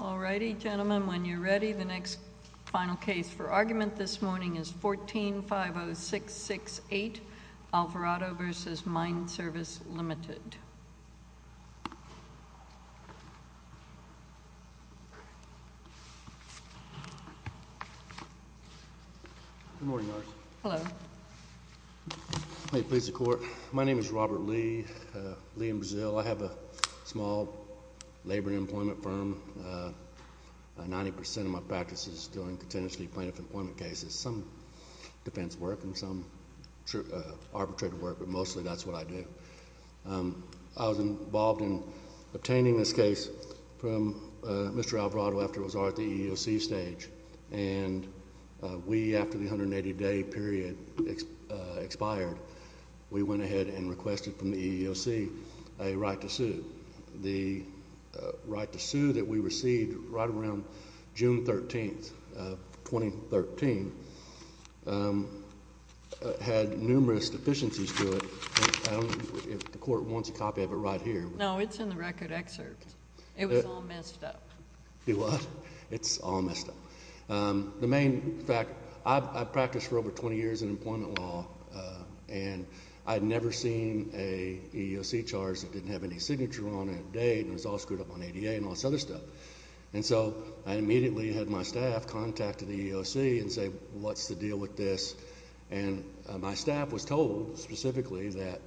All righty, gentlemen, when you're ready, the next final case for argument this morning is 14-50668, Alvarado v. Mine Service, Limited. Good morning, Norris. Hello. May it please the Court, my name is Robert Lee, Lee and Brazile. I have a small labor and employment firm, 90% of my practice is doing contingency plaintiff employment cases, some defense work and some arbitrated work, but mostly that's what I do. I was involved in obtaining this case from Mr. Alvarado after it was at the EEOC stage, and we, after the 180-day period expired, we went ahead and requested from the EEOC a right to sue. And the right to sue that we received right around June 13, 2013, had numerous deficiencies to it. I don't know if the Court wants a copy of it right here. No, it's in the record excerpt. It was all messed up. It was? It's all messed up. The main fact, I've practiced for over 20 years in employment law, and I'd never seen a EEOC charge that didn't have any signature on it, date, and it was all screwed up on ADA and all this other stuff. And so I immediately had my staff contact the EEOC and say, what's the deal with this? And my staff was told specifically that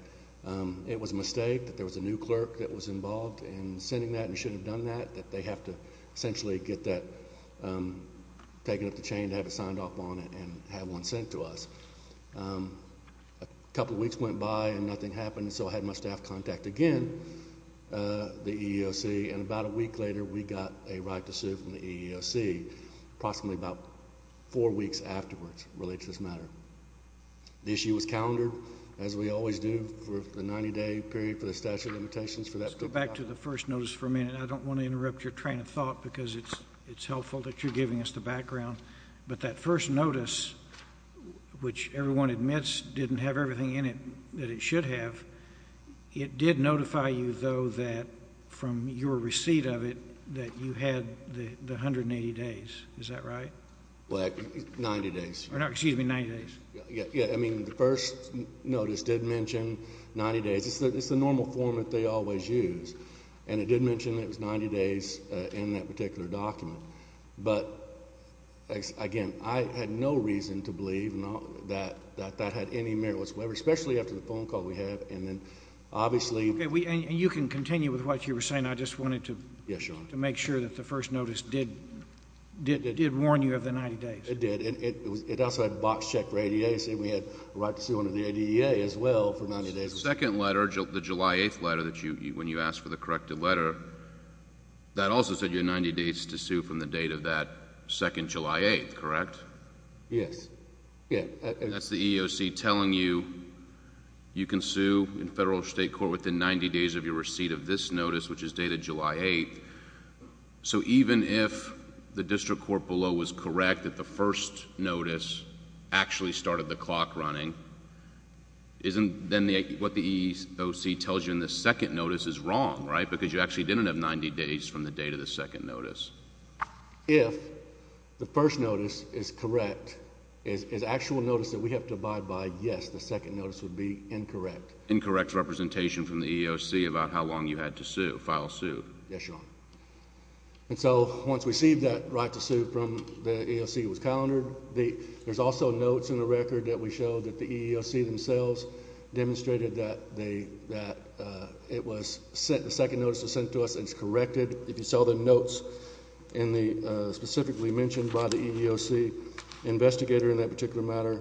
it was a mistake, that there was a new clerk that was involved in sending that and should have done that, that they have to essentially get that taken up the chain to have it signed off on it and have one sent to us. A couple of weeks went by and nothing happened, so I had my staff contact again the EEOC, and about a week later, we got a right to sue from the EEOC, approximately about four weeks afterwards, related to this matter. The issue was calendared, as we always do, for the 90-day period for the statute of limitations for that. Let's go back to the first notice for a minute. I don't want to interrupt your train of thought because it's helpful that you're giving us the background. But that first notice, which everyone admits didn't have everything in it that it should have, it did notify you, though, that from your receipt of it, that you had the 180 days. Is that right? Well, 90 days. Excuse me, 90 days. Yeah. I mean, the first notice did mention 90 days. It's the normal form that they always use. And it did mention that it was 90 days in that particular document. But, again, I had no reason to believe that that had any merit whatsoever, especially after the phone call we had, and then obviously... Okay. And you can continue with what you were saying. I just wanted to... Yes, Your Honor.... to make sure that the first notice did warn you of the 90 days. It did. It also had a box check for 80 days, and we had a right to sue under the 80-day as well for 90 days. The second letter, the July 8th letter, when you asked for the corrected letter, that also said you had 90 days to sue from the date of that second July 8th, correct? Yes. Yeah. That's the EEOC telling you, you can sue in federal or state court within 90 days of your receipt of this notice, which is dated July 8th. So even if the district court below was correct that the first notice actually started the clock running, isn't... then what the EEOC tells you in the second notice is wrong, right? Because you actually didn't have 90 days from the date of the second notice. If the first notice is correct, is actual notice that we have to abide by, yes, the second notice would be incorrect. Incorrect representation from the EEOC about how long you had to sue, file a sue. Yes, Your Honor. And so, once we received that right to sue from the EEOC, it was calendared. There's also notes in the record that we showed that the EEOC themselves demonstrated that they... that it was sent... the second notice was sent to us and it's corrected. If you saw the notes in the... specifically mentioned by the EEOC investigator in that particular matter,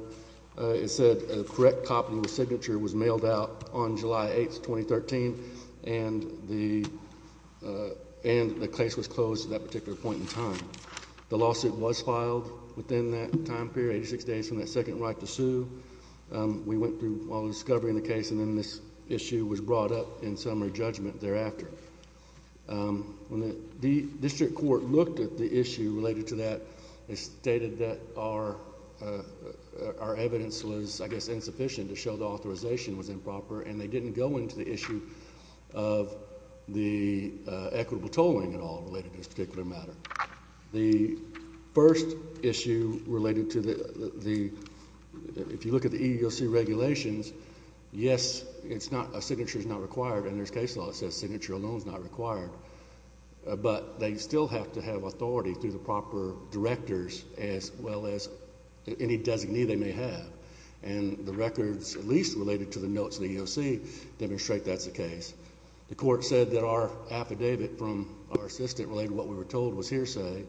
it said a correct copy of the signature was mailed out on July 8th, 2013, and the... and the case was closed at that particular point in time. The lawsuit was filed within that time period, 86 days from that second right to sue. We went through all the discovery in the case and then this issue was brought up in summary judgment thereafter. When the district court looked at the issue related to that, they stated that our evidence was, I guess, insufficient to show the authorization was improper and they didn't go into the issue of the equitable tolling at all related to this particular matter. The first issue related to the... if you look at the EEOC regulations, yes, it's not... a signature is not required under this case law, it says signature alone is not required, but they still have to have authority through the proper directors as well as any designee they may have, and the records, at least related to the notes in the EEOC, demonstrate that's the case. The court said that our affidavit from our assistant related to what we were told was hearsay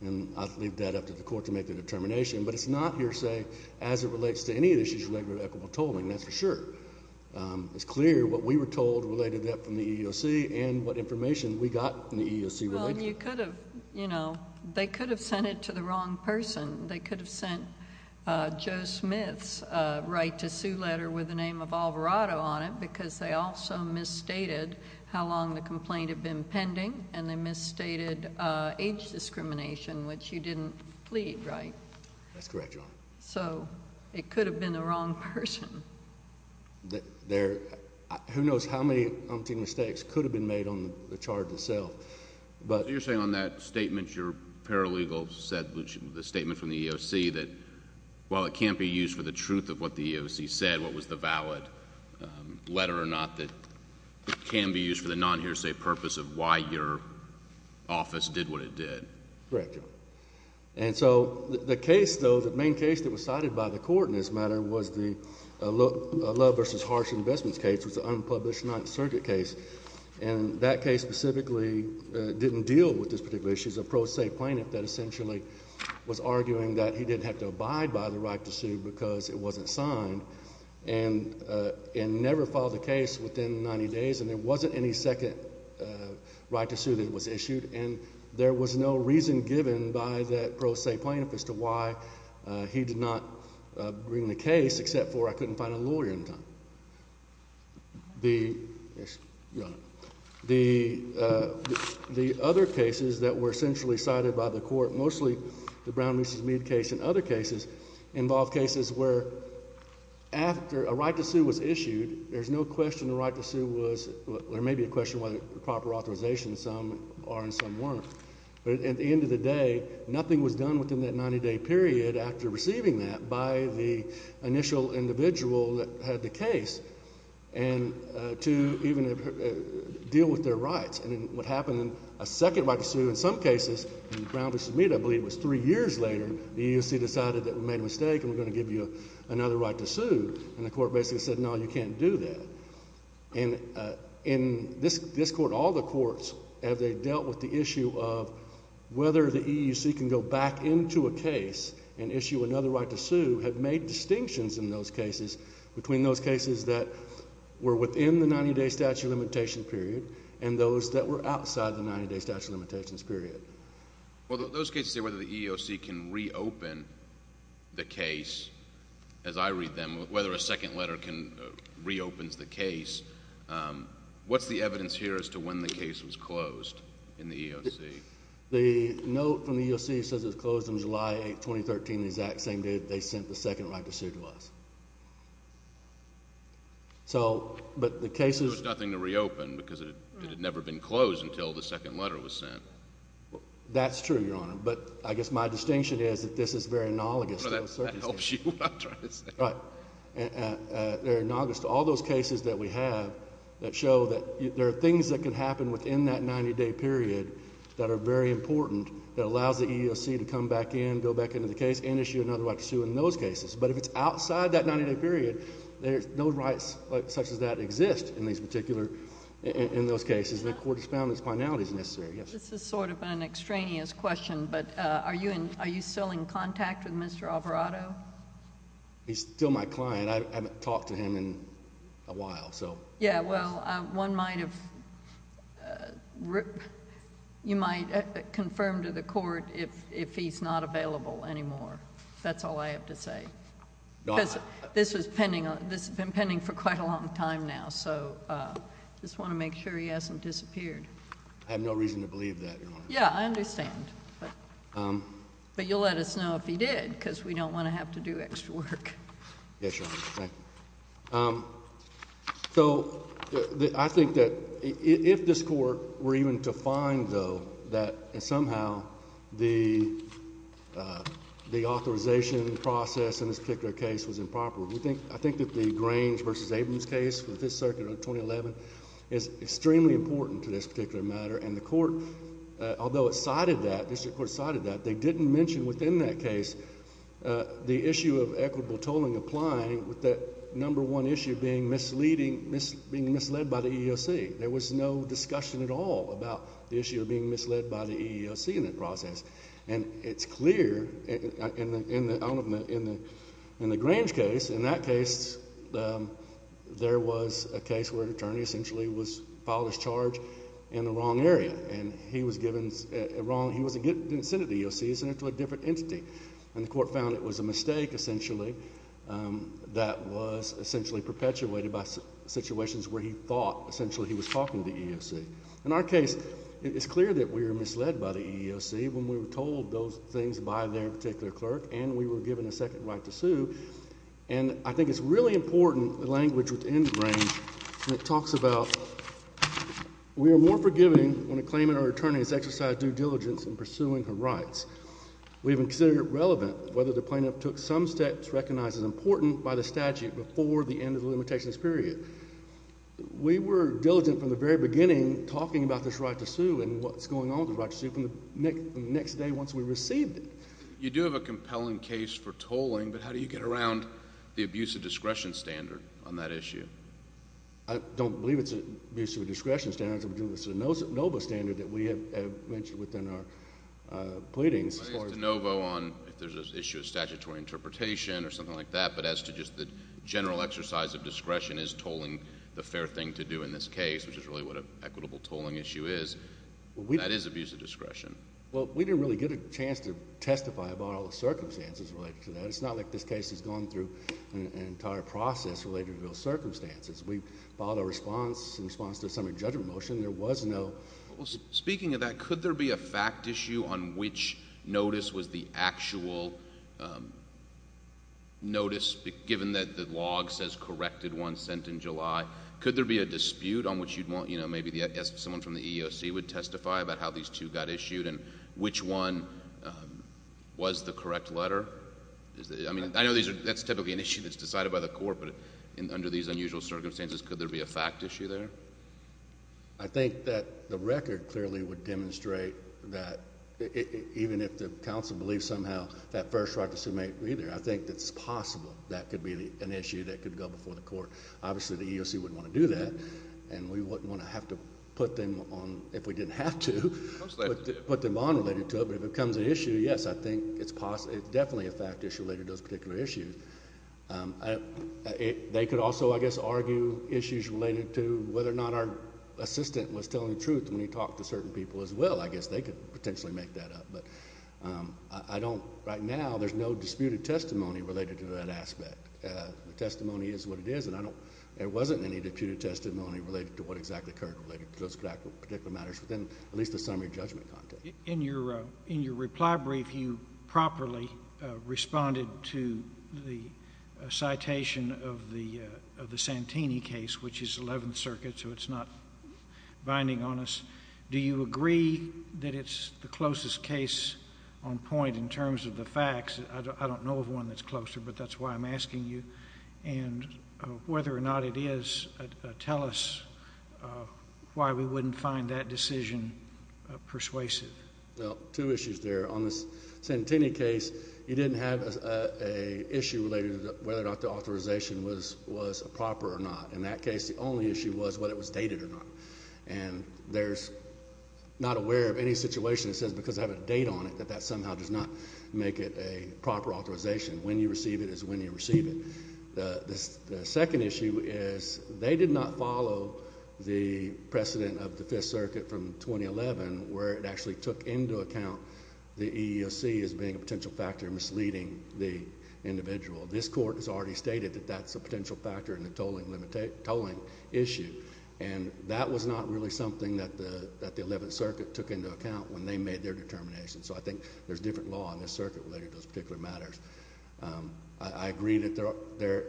and I'll leave that up to the court to make the determination, but it's not hearsay as it relates to any of the issues related to equitable tolling, that's for sure. It's clear what we were told related to that from the EEOC and what information we got from the EEOC... Well, you could have, you know, they could have sent it to the wrong person. They could have sent Joe Smith's right to sue letter with the name of Alvarado on it because they also misstated how long the complaint had been pending and they misstated age discrimination, which you didn't plead, right? That's correct, Your Honor. So it could have been the wrong person. There... who knows how many unthinkable mistakes could have been made on the charge itself, but... So you're saying on that statement, your paralegal said, the statement from the EEOC, that while it can't be used for the truth of what the EEOC said, what was the valid letter or not, that it can be used for the non-hearsay purpose of why your office did what it did. Correct, Your Honor. And so the case, though, the main case that was cited by the court in this matter was the Love v. Harsh Investments case, which was an unpublished Ninth Circuit case. And that case specifically didn't deal with this particular issue. It's a pro se plaintiff that essentially was arguing that he didn't have to abide by the right to sue because it wasn't signed, and never filed a case within 90 days, and there wasn't any second right to sue that was issued, and there was no reason given by that pro se plaintiff as to why he did not bring the case, except for I couldn't find a lawyer in time. The other cases that were essentially cited by the court, mostly the Brown v. Mead case and other cases, involved cases where after a right to sue was issued, there's no question the right to sue was, or maybe a question of whether proper authorization, some are and some weren't. But at the end of the day, nothing was done within that 90-day period after receiving that by the initial individual that had the case, and to even deal with their rights. And what happened in a second right to sue, in some cases, in Brown v. Mead, I believe it was three years later, the EEOC decided that we made a mistake and we're going to give you another right to sue, and the court basically said, no, you can't do that. And in this court, all the courts, as they dealt with the issue of whether the EEOC can go back into a case and issue another right to sue, have made distinctions in those cases between those cases that were within the 90-day statute of limitations period and those that were outside the 90-day statute of limitations period. Well, those cases say whether the EEOC can reopen the case, as I read them, whether a second letter reopens the case. What's the evidence here as to when the case was closed in the EEOC? The note from the EEOC says it was closed on July 8, 2013, the exact same day they sent the second right to sue to us. So, but the cases... There was nothing to reopen because it had never been closed until the second letter was sent. That's true, Your Honor. But I guess my distinction is that this is very analogous to... No, that helps you. I'm trying to say... Right. They're analogous to all those cases that we have that show that there are things that can happen within that 90-day period that are very important that allows the EEOC to come back in, go back into the case, and issue another right to sue in those cases. But if it's outside that 90-day period, there's no rights such as that exist in these particular... in those cases. The court has found these finalities necessary. Yes. This is sort of an extraneous question, but are you still in contact with Mr. Alvarado? He's still my client. I haven't talked to him in a while, so... Yeah, well, one might have... you might confirm to the court if he's not available anymore. That's all I have to say. No, I... Because this has been pending for quite a long time now, so I just want to make sure he hasn't disappeared. I have no reason to believe that, Your Honor. Yeah, I understand. But you'll let us know if he did, because we don't want to have to do extra work. Yes, Your Honor. Thank you. So, I think that if this Court were even to find, though, that somehow the authorization process in this particular case was improper, I think that the Grange v. Abrams case with the Fifth Circuit in 2011 is extremely important to this particular matter. And the Court, although it cited that, the District Court cited that, they didn't mention within that case the issue of equitable tolling applying with that number one issue being misleading... being misled by the EEOC. There was no discussion at all about the issue of being misled by the EEOC in that process. And it's clear in the Grange case, in that case, there was a case where an attorney essentially was filed his charge in the wrong area, and he was given... he didn't sit at the EEOC, he was sent to a different entity. And the Court found it was a mistake, essentially, that was essentially perpetuated by situations where he thought, essentially, he was talking to the EEOC. In our case, it's clear that we were misled by the EEOC when we were told those things by their particular clerk, and we were given a second right to sue. And I think it's really important, the language within the Grange, when it talks about, we are more forgiving when a claimant or attorney is exercised due diligence in pursuing her rights. We have considered it relevant whether the plaintiff took some steps recognized as important by the statute before the end of the limitations period. We were diligent from the very beginning talking about this right to sue and what's going on with the right to sue from the next day once we received it. You do have a compelling case for tolling, but how do you get around the abuse of discretion standard on that issue? I don't believe it's an abuse of discretion standard, it's a de novo standard that we have mentioned within our pleadings. De novo on if there's an issue of statutory interpretation or something like that, but as to just the general exercise of discretion is tolling the fair thing to do in this case, which is really what an equitable tolling issue is, that is abuse of discretion. Well, we didn't really get a chance to testify about all the circumstances related to that. It's not like this case has gone through an entire process related to those circumstances. We filed a response in response to a summary judgment motion, and there was no... Given that the log says corrected one sent in July, could there be a dispute on which you'd want... maybe someone from the EEOC would testify about how these two got issued and which one was the correct letter? I know that's typically an issue that's decided by the court, but under these unusual circumstances, could there be a fact issue there? I think that the record clearly would demonstrate that even if the counsel believes somehow that first right to submit either, I think it's possible that could be an issue that could go before the court. Obviously, the EEOC wouldn't want to do that, and we wouldn't want to have to put them on if we didn't have to, put them on related to it, but if it becomes an issue, yes, I think it's definitely a fact issue related to those particular issues. They could also, I guess, argue issues related to whether or not our assistant was telling the truth when he talked to certain people as well. I guess they could potentially make that up, but I don't... right now, there's no disputed testimony related to that aspect. The testimony is what it is, and I don't... there wasn't any disputed testimony related to what exactly occurred related to those particular matters within at least the summary judgment context. In your reply brief, you properly responded to the citation of the Santini case, which is Eleventh Circuit, so it's not binding on us. Do you agree that it's the closest case on point in terms of the facts? I don't know of one that's closer, but that's why I'm asking you, and whether or not it is, tell us why we wouldn't find that decision persuasive. Well, two issues there. On the Santini case, you didn't have an issue related to whether or not the authorization was proper or not. In that case, the only issue was whether it was dated or not, and there's... I'm not aware of any situation that says because I have a date on it, that that somehow does not make it a proper authorization. When you receive it is when you receive it. The second issue is they did not follow the precedent of the Fifth Circuit from 2011, where it actually took into account the EEOC as being a potential factor misleading the individual. This Court has already stated that that's a potential factor in the tolling issue, and that was not really something that the Eleventh Circuit took into account when they made their determination. So I think there's different law in this circuit related to those particular matters. I agree that there...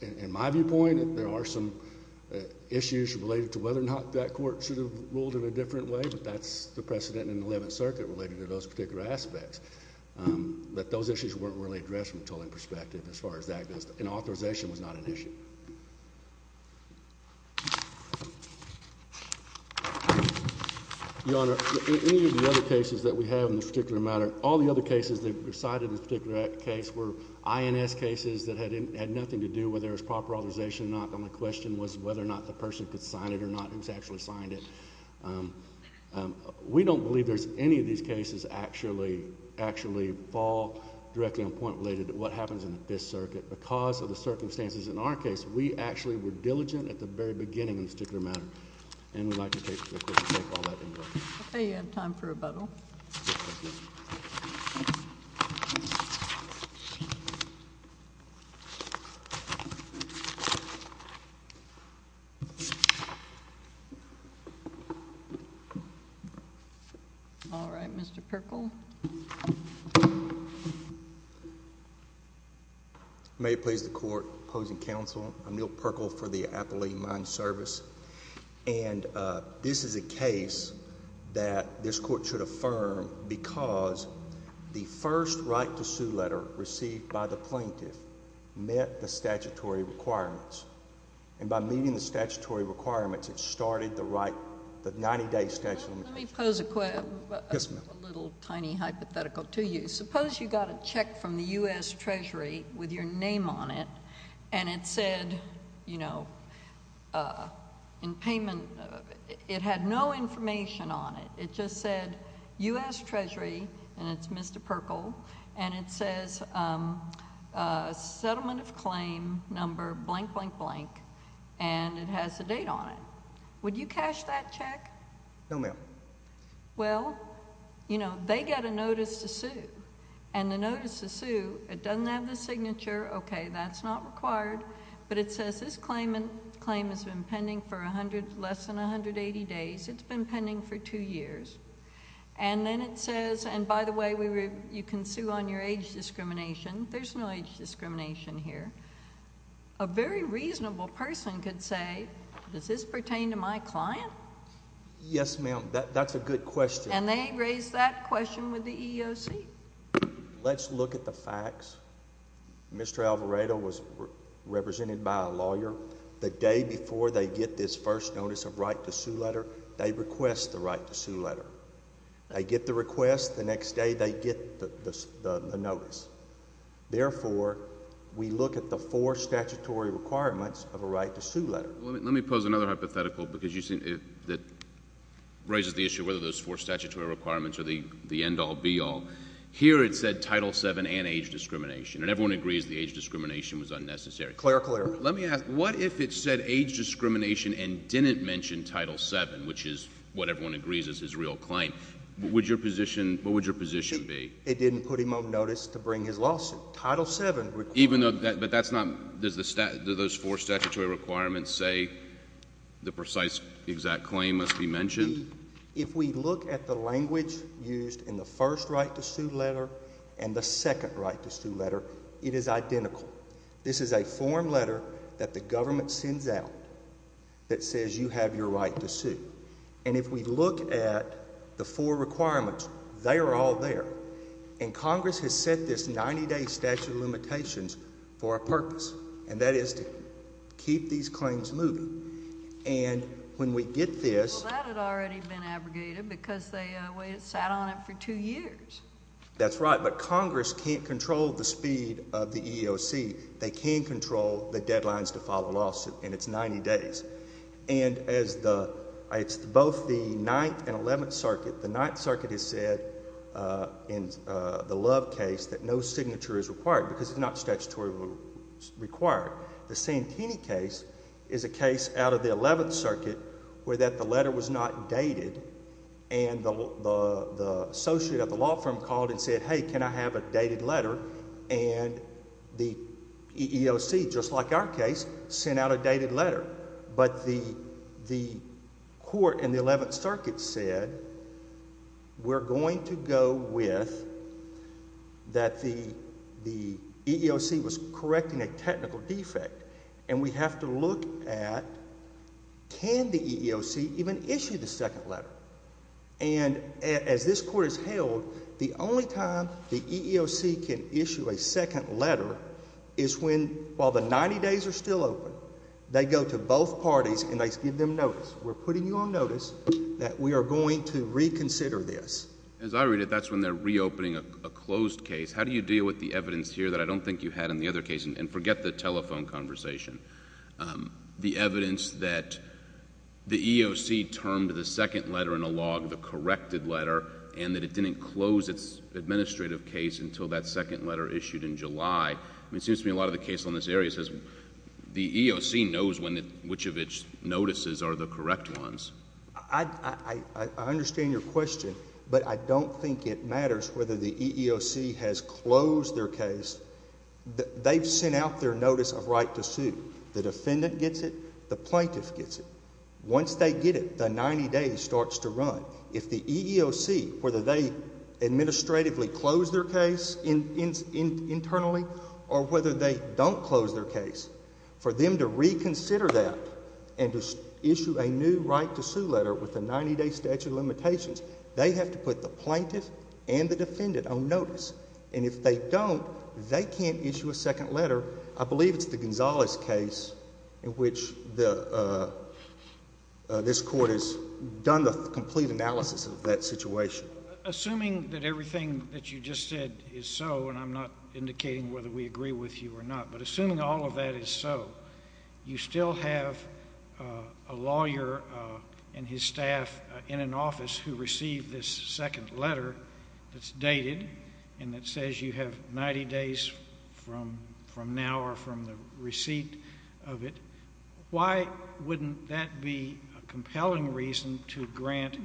in my viewpoint, there are some issues related to whether or not that Court should have ruled in a different way, but that's the precedent in the Eleventh Circuit related to those particular aspects. But those issues weren't really addressed from a tolling perspective, as far as that goes. And authorization was not an issue. Your Honor, in any of the other cases that we have in this particular matter, all the other cases that were cited in this particular case were INS cases that had nothing to do whether there was proper authorization or not, and the question was whether or not the person could sign it or not, who's actually signed it. We don't believe there's any of these cases actually fall directly on a point related to what happens in the Fifth Circuit because of the circumstances in our case. We actually were diligent at the very beginning in this particular matter, and we'd like to take all that into account. Okay. You have time for rebuttal. All right. Mr. Pirkle. May it please the Court, opposing counsel, I'm Neal Pirkle for the Appellee Mind Service. And this is a case that this Court should affirm because the first right-to-sue letter received by the plaintiff met the statutory requirements. And by meeting the statutory requirements, it started the right... the 90-day statute... Let me pose a... Yes, ma'am.... a little tiny hypothetical to you. Suppose you got a check from the U.S. Treasury with your name on it, and it said, you know, in payment... it had no information on it. It just said, U.S. Treasury, and it's Mr. Pirkle, and it says, Settlement of Claim Number blank, blank, blank, and it has the date on it. Would you cash that check? No, ma'am. Well, you know, they get a notice to sue, and the notice to sue, it doesn't have the signature. Okay, that's not required, but it says this claim has been pending for less than 180 days. It's been pending for two years. And then it says... and by the way, you can sue on your age discrimination. There's no age discrimination here. A very reasonable person could say, does this pertain to my client? Yes, ma'am. That's a good question. And they raised that question with the EEOC? Let's look at the facts. Mr. Alvarado was represented by a lawyer. The day before they get this first notice of right to sue letter, they request the right to sue letter. They get the request. The next day, they get the notice. Therefore, we look at the four statutory requirements of a right to sue letter. Let me pose another hypothetical, because you seem to... that raises the issue of whether those four statutory requirements are the end-all, be-all. Here it said Title VII and age discrimination, and everyone agrees the age discrimination was unnecessary. Clear, clear. Let me ask, what if it said age discrimination and didn't mention Title VII, which is what everyone agrees is his real claim? Would your position... what would your position be? Title VII... Even though... but that's not... does the... do those four statutory requirements say the precise, exact claim must be mentioned? If we look at the language used in the first right to sue letter and the second right to sue letter, it is identical. This is a form letter that the government sends out that says you have your right to sue. And if we look at the four requirements, they are all there. And Congress has set this 90-day statute of limitations for a purpose, and that is to keep these claims moving. And when we get this... Well, that had already been abrogated, because they sat on it for two years. That's right, but Congress can't control the speed of the EEOC. They can't control the deadlines to file a lawsuit, and it's 90 days. And as the... it's both the Ninth and Eleventh Circuit... the Ninth Circuit has said in the Love case that no signature is required, because it's not statutorily required. The Santini case is a case out of the Eleventh Circuit where that the letter was not dated, and the associate at the law firm called and said, hey, can I have a dated letter? And the EEOC, just like our case, sent out a dated letter. But the court in the Eleventh Circuit said, we're going to go with that the EEOC was correcting a technical defect, and we have to look at, can the EEOC even issue the second letter? And as this court has held, the only time the EEOC can issue a second letter is when, while the 90 days are still open, they go to both parties and they give them notice. We're putting you on notice that we are going to reconsider this. As I read it, that's when they're reopening a closed case. How do you deal with the evidence here that I don't think you had in the other case? And forget the telephone conversation. The evidence that the EEOC termed the second letter in a log the corrected letter, and that it didn't close its administrative case until that second letter issued in July. I mean, it seems to me a lot of the case on this area says the EEOC knows when, which of its notices are the correct ones. I understand your question, but I don't think it matters whether the EEOC has closed their case. They've sent out their notice of right to sue. The defendant gets it, the plaintiff gets it. Once they get it, the 90 days starts to run. If the EEOC, whether they administratively close their case internally, or whether they don't close their case, for them to reconsider that and to issue a new right to sue letter with a 90 day statute of limitations, they have to put the plaintiff and the defendant on notice. And if they don't, they can't issue a second letter. I believe it's the Gonzalez case in which this court has done the complete analysis of that situation. Assuming that everything that you just said is so, and I'm not indicating whether we agree with you or not, but assuming all of that is so, you still have a lawyer and his staff in an office who receive this second letter that's dated and that says you have 90 days from now or from the receipt of it, why wouldn't that be a compelling reason to grant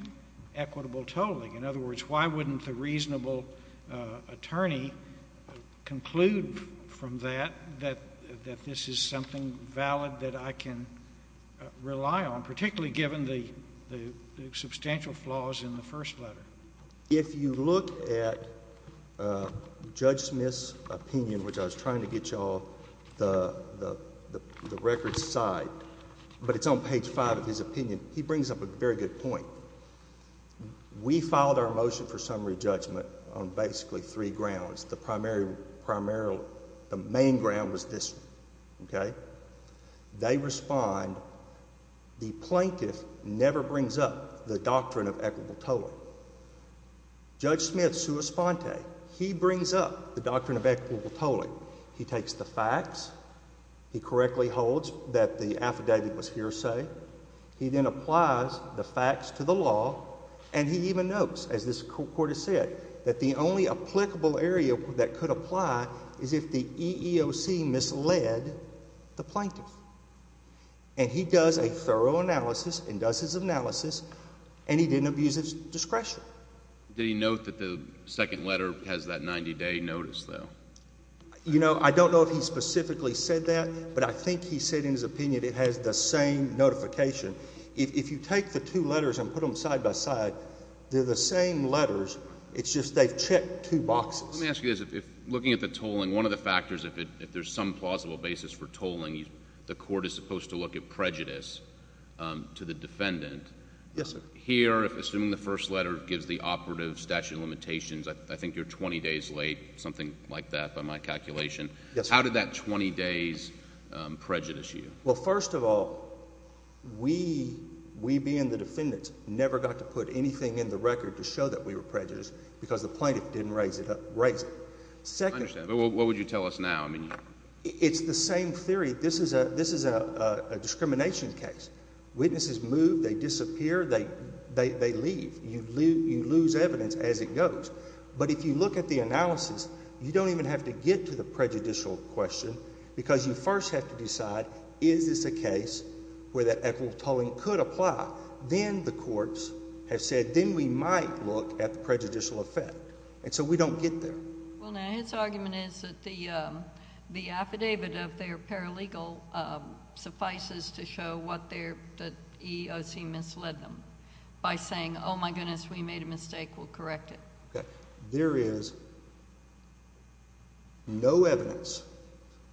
equitable tolling? In other words, why wouldn't the reasonable attorney conclude from that that this is something valid that I can rely on, particularly given the substantial flaws in the first letter? If you look at Judge Smith's opinion, which I was trying to get you all the record side, but it's on page five of his opinion, he brings up a very good point. We filed our motion for summary judgment on basically three grounds. The primary, primarily, the main ground was this, okay? They respond, the plaintiff never brings up the doctrine of equitable tolling. Judge Smith, sua sponte, he brings up the doctrine of equitable tolling. He takes the facts. He correctly holds that the affidavit was hearsay. He then applies the facts to the law, and he even notes, as this court has said, that the only applicable area that could apply is if the EEOC misled the plaintiff. And he does a thorough analysis and does his analysis, and he didn't abuse his discretion. Did he note that the second letter has that 90-day notice, though? I don't know if he specifically said that, but I think he said in his opinion it has the same notification. If you take the two letters and put them side by side, they're the same letters. It's just they've checked two boxes. Let me ask you this. Looking at the tolling, one of the factors, if there's some plausible basis for tolling, the court is supposed to look at prejudice to the defendant. Yes, sir. Here, assuming the first letter gives the operative statute of limitations, I think you're 20 days late, something like that by my calculation. Yes, sir. How did that 20 days prejudice you? Well, first of all, we being the defendants never got to put anything in the record to show that we were prejudiced because the plaintiff didn't raise it. I understand, but what would you tell us now? It's the same theory. This is a discrimination case. Witnesses move, they disappear, they leave. You lose evidence as it goes. But if you look at the analysis, you don't even have to get to the prejudicial question because you first have to decide, is this a case where that equitable tolling could apply? Then the courts have said, then we might look at the prejudicial effect. And so we don't get there. Well, now, his argument is that the affidavit of their paralegal suffices to show what the EEOC misled them by saying, oh, my goodness, we made a mistake, we'll correct it. There is no evidence,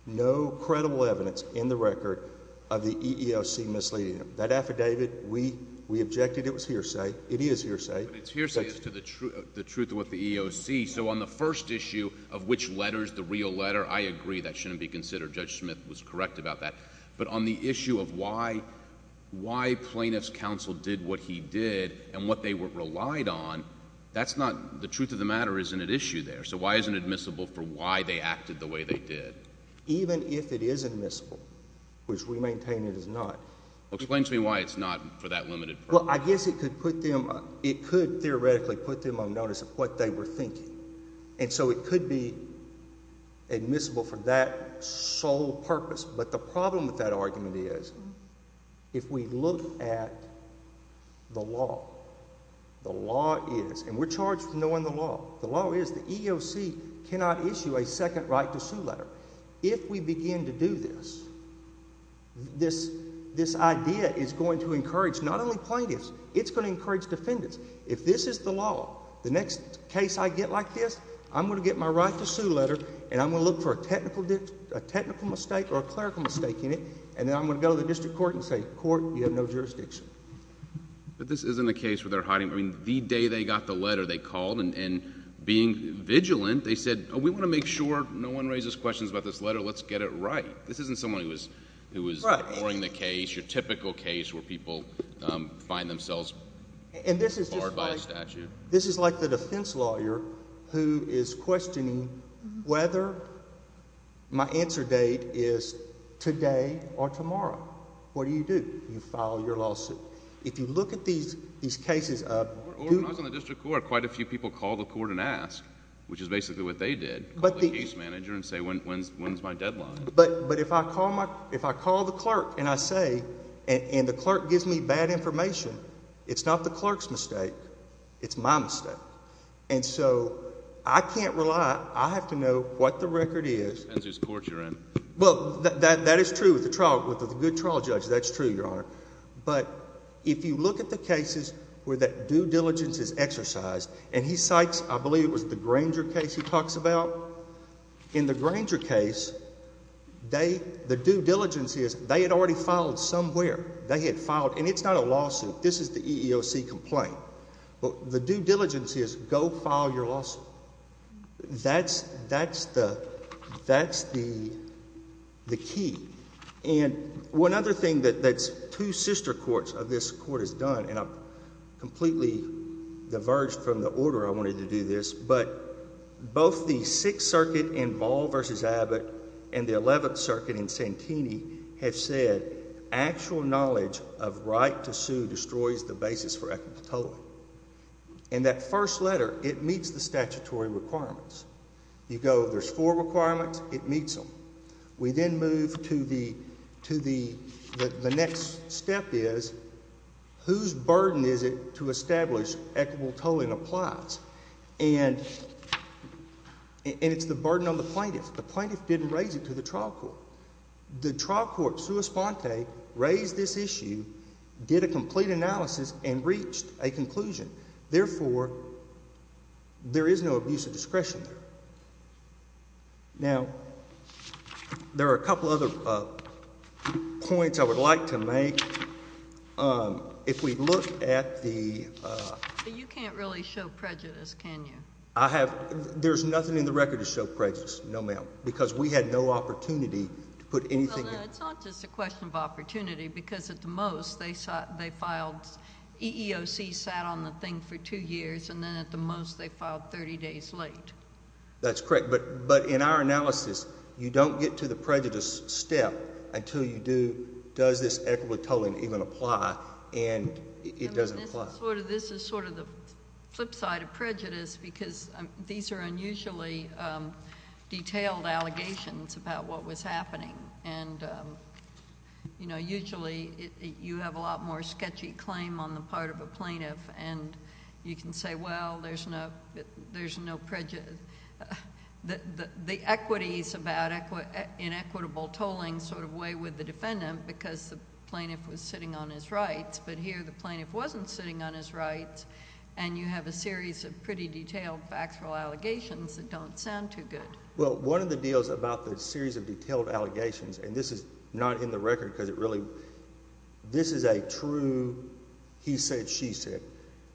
no credible evidence in the record of the EEOC misleading them. That affidavit, we objected it was hearsay. It is hearsay. But it's hearsay as to the truth of what the EEOC. So on the first issue of which letter is the real letter, I agree that shouldn't be considered. Judge Smith was correct about that. But on the issue of why plaintiff's counsel did what he did and what they relied on, that's not the truth of the matter isn't at issue there. So why isn't it admissible for why they acted the way they did? Even if it is admissible, which we maintain it is not. Well, explain to me why it's not for that limited purpose. Well, I guess it could theoretically put them on notice of what they were thinking. And so it could be admissible for that sole purpose. But the problem with that argument is if we look at the law, the law is, and we're charged with knowing the law, the law is the EEOC cannot issue a second right to sue letter. If we begin to do this, this idea is going to encourage not only plaintiffs, it's going to encourage defendants. If this is the law, the next case I get like this, I'm going to get my right to sue letter and I'm going to look for a technical mistake or a clerical mistake in it, and then I'm going to go to the district court and say, court, you have no jurisdiction. But this isn't a case where they're hiding, I mean, the day they got the letter, they called and being vigilant, they said, we want to make sure no one raises questions about this letter, let's get it right. This isn't someone who is ignoring the case, your typical case where people find themselves barred by a statute. This is like the defense lawyer who is questioning whether my answer date is today or tomorrow. What do you do? You file your lawsuit. If you look at these cases of... When I was in the district court, quite a few people called the court and asked, which is basically what they did, call the case manager and say, when's my deadline? But if I call the clerk and I say, and the clerk gives me bad information, it's not the clerk's mistake, it's my mistake. And so I can't rely, I have to know what the record is. Depends whose court you're in. Well, that is true. With a good trial judge, that's true, Your Honor. But if you look at the cases where that due diligence is exercised, and he cites, I believe it was the Granger case he talks about. In the Granger case, the due diligence is they had already filed somewhere. They had filed, and it's not a lawsuit. This is the EEOC complaint. But the due diligence is go file your lawsuit. That's the key. And one other thing that two sister courts of this court have done, and I'm completely diverged from the order I wanted to do this, but both the Sixth Circuit in Ball v. Abbott and the Eleventh Circuit in Santini have said actual knowledge of right to sue destroys the basis for equitable tolling. And that first letter, it meets the statutory requirements. You go, there's four requirements, it meets them. We then move to the next step is whose burden is it to establish equitable tolling applies? And it's the burden on the plaintiff. The plaintiff didn't raise it to the trial court. The trial court, sua sponte, raised this issue, did a complete analysis, and reached a conclusion. Therefore, there is no abuse of discretion there. Now, there are a couple other points I would like to make. If we look at the ---- You can't really show prejudice, can you? I have. There's nothing in the record to show prejudice. No, ma'am, because we had no opportunity to put anything in. Well, no, it's not just a question of opportunity, because at the most they filed EEOC sat on the thing for two years, and then at the most they filed 30 days late. That's correct. But in our analysis, you don't get to the prejudice step until you do, does this equitable tolling even apply, and it doesn't apply. This is sort of the flip side of prejudice because these are unusually detailed allegations about what was happening. Usually, you have a lot more sketchy claim on the part of a plaintiff, and you can say, well, there's no prejudice. The equities about inequitable tolling sort of weigh with the defendant because the plaintiff was sitting on his rights, but here the plaintiff wasn't sitting on his rights, and you have a series of pretty detailed factual allegations that don't sound too good. Well, one of the deals about the series of detailed allegations, and this is not in the record because it really, this is a true he said, she said.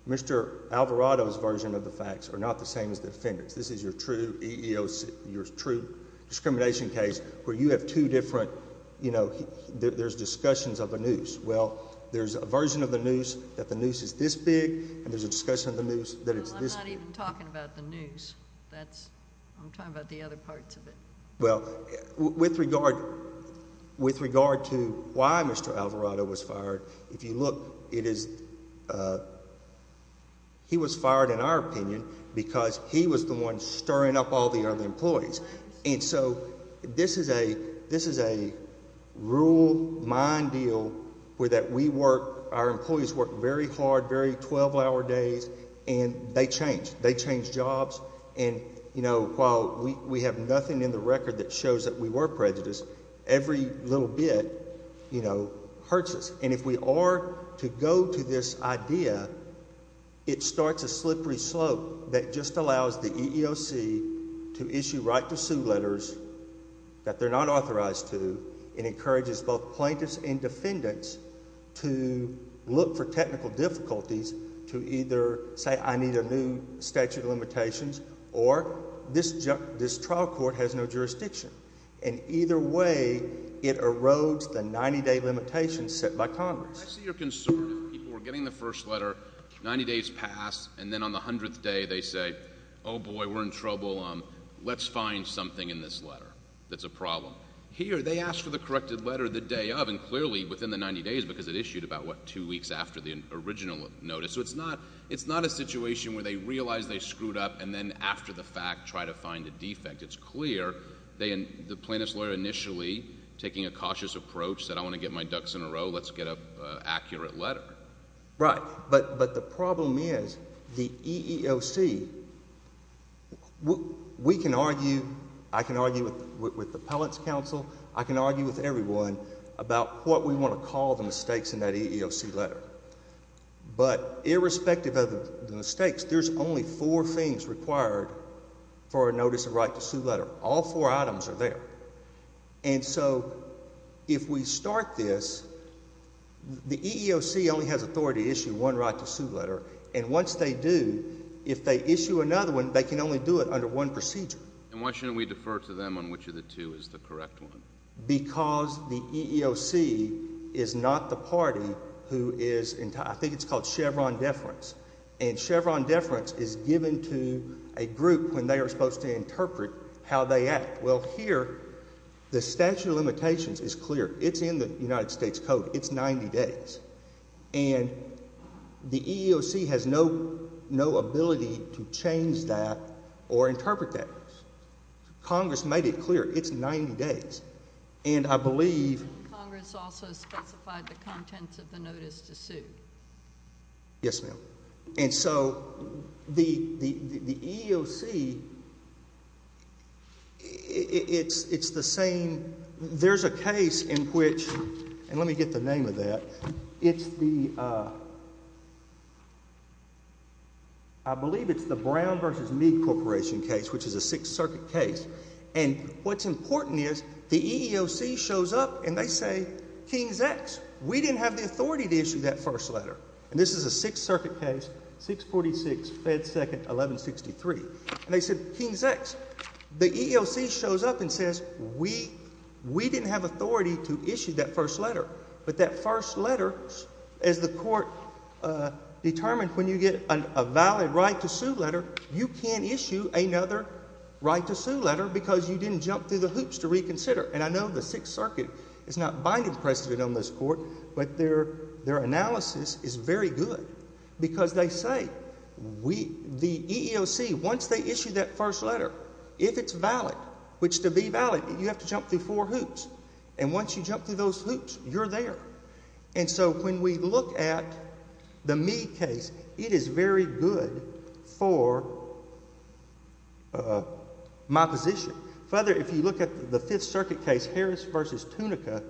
Mr. Alvarado's version of the facts are not the same as the defendant's. This is your true EEOC, your true discrimination case where you have two different, you know, there's discussions of a noose. Well, there's a version of the noose that the noose is this big, and there's a discussion of the noose that it's this big. Well, I'm not even talking about the noose. That's, I'm talking about the other parts of it. Well, with regard to why Mr. Alvarado was fired, if you look, it is, he was fired in our opinion because he was the one stirring up all the other employees. And so this is a rule mine deal where that we work, our employees work very hard, very 12-hour days, and they change. They change jobs. And, you know, while we have nothing in the record that shows that we were prejudiced, every little bit, you know, hurts us. And if we are to go to this idea, it starts a slippery slope that just allows the EEOC to issue right-to-sue letters that they're not authorized to and encourages both plaintiffs and defendants to look for technical difficulties to either say, I need a new statute of limitations, or this trial court has no jurisdiction. And either way, it erodes the 90-day limitation set by Congress. I see you're concerned if people are getting the first letter, 90 days pass, and then on the 100th day they say, oh, boy, we're in trouble. Let's find something in this letter that's a problem. Here they ask for the corrected letter the day of, and clearly within the 90 days because it issued about, what, two weeks after the original notice. So it's not a situation where they realize they screwed up and then after the fact try to find a defect. It's clear the plaintiff's lawyer initially, taking a cautious approach, said I want to get my ducks in a row, let's get an accurate letter. Right, but the problem is the EEOC, we can argue, I can argue with the appellate's counsel, I can argue with everyone about what we want to call the mistakes in that EEOC letter. But irrespective of the mistakes, there's only four things required for a notice of right to sue letter. All four items are there. And so if we start this, the EEOC only has authority to issue one right to sue letter, and once they do, if they issue another one, they can only do it under one procedure. And why shouldn't we defer to them on which of the two is the correct one? Because the EEOC is not the party who is, I think it's called Chevron deference, and Chevron deference is given to a group when they are supposed to interpret how they act. Well, here the statute of limitations is clear. It's in the United States Code. It's 90 days. And the EEOC has no ability to change that or interpret that. Congress made it clear. It's 90 days. And I believe. Congress also specified the contents of the notice to sue. Yes, ma'am. And so the EEOC, it's the same. There's a case in which, and let me get the name of that. It's the, I believe it's the Brown v. Meade Corporation case, which is a Sixth Circuit case. And what's important is the EEOC shows up and they say, King's X, we didn't have the authority to issue that first letter. And this is a Sixth Circuit case, 646, Fed Second, 1163. And they said, King's X. The EEOC shows up and says, we didn't have authority to issue that first letter. But that first letter, as the court determined when you get a valid right to sue letter, you can't issue another right to sue letter because you didn't jump through the hoops to reconsider. And I know the Sixth Circuit is not binding precedent on this court, but their analysis is very good. Because they say, the EEOC, once they issue that first letter, if it's valid, which to be valid, you have to jump through four hoops. And once you jump through those hoops, you're there. And so when we look at the Meade case, it is very good for my position. Further, if you look at the Fifth Circuit case, Harris v. Tunica,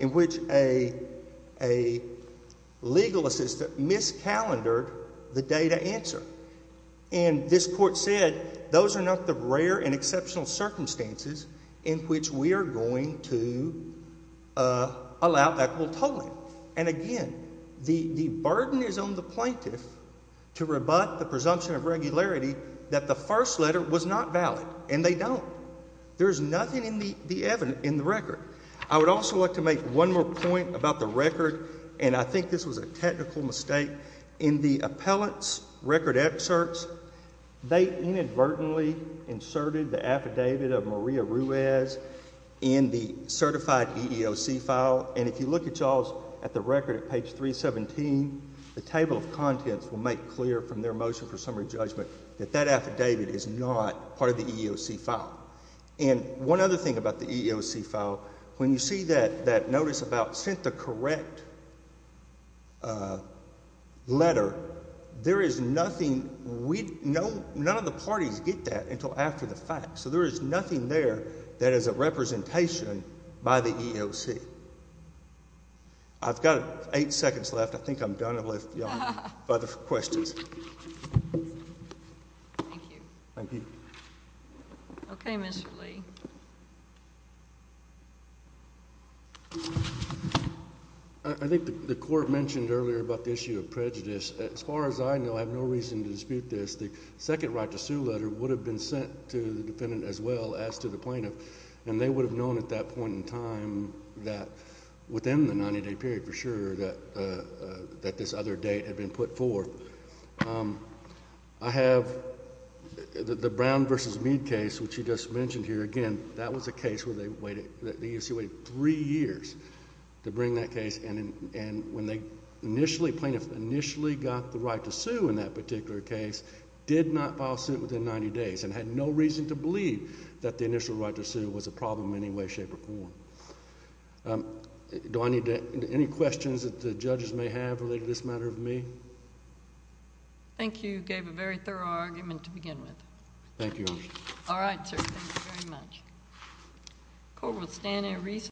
in which a legal assistant miscalendored the data answer. And this court said, those are not the rare and exceptional circumstances in which we are going to allow equitable tolling. And again, the burden is on the plaintiff to rebut the presumption of regularity that the first letter was not valid. And they don't. There's nothing in the record. I would also like to make one more point about the record, and I think this was a technical mistake. In the appellant's record excerpts, they inadvertently inserted the affidavit of Maria Ruiz in the certified EEOC file. And if you look at y'all's, at the record at page 317, the table of contents will make clear from their motion for summary judgment that that affidavit is not part of the EEOC file. And one other thing about the EEOC file, when you see that notice about sent the correct letter, there is nothing. None of the parties get that until after the fact. So there is nothing there that is a representation by the EEOC. I've got eight seconds left. I think I'm done with the other questions. Thank you. Thank you. Okay, Mr. Lee. I think the court mentioned earlier about the issue of prejudice. As far as I know, I have no reason to dispute this, the second right to sue letter would have been sent to the defendant as well as to the plaintiff. And they would have known at that point in time that within the 90-day period for sure that this other date had been put forth. I have the Brown v. Meade case, which you just mentioned here. Again, that was a case where the EEOC waited three years to bring that case. And when the plaintiff initially got the right to sue in that particular case, did not file suit within 90 days, and had no reason to believe that the initial right to sue was a problem in any way, shape, or form. Do I need any questions that the judges may have related to this matter of me? Thank you. You gave a very thorough argument to begin with. Thank you, Your Honor. All right, sir. Thank you very much.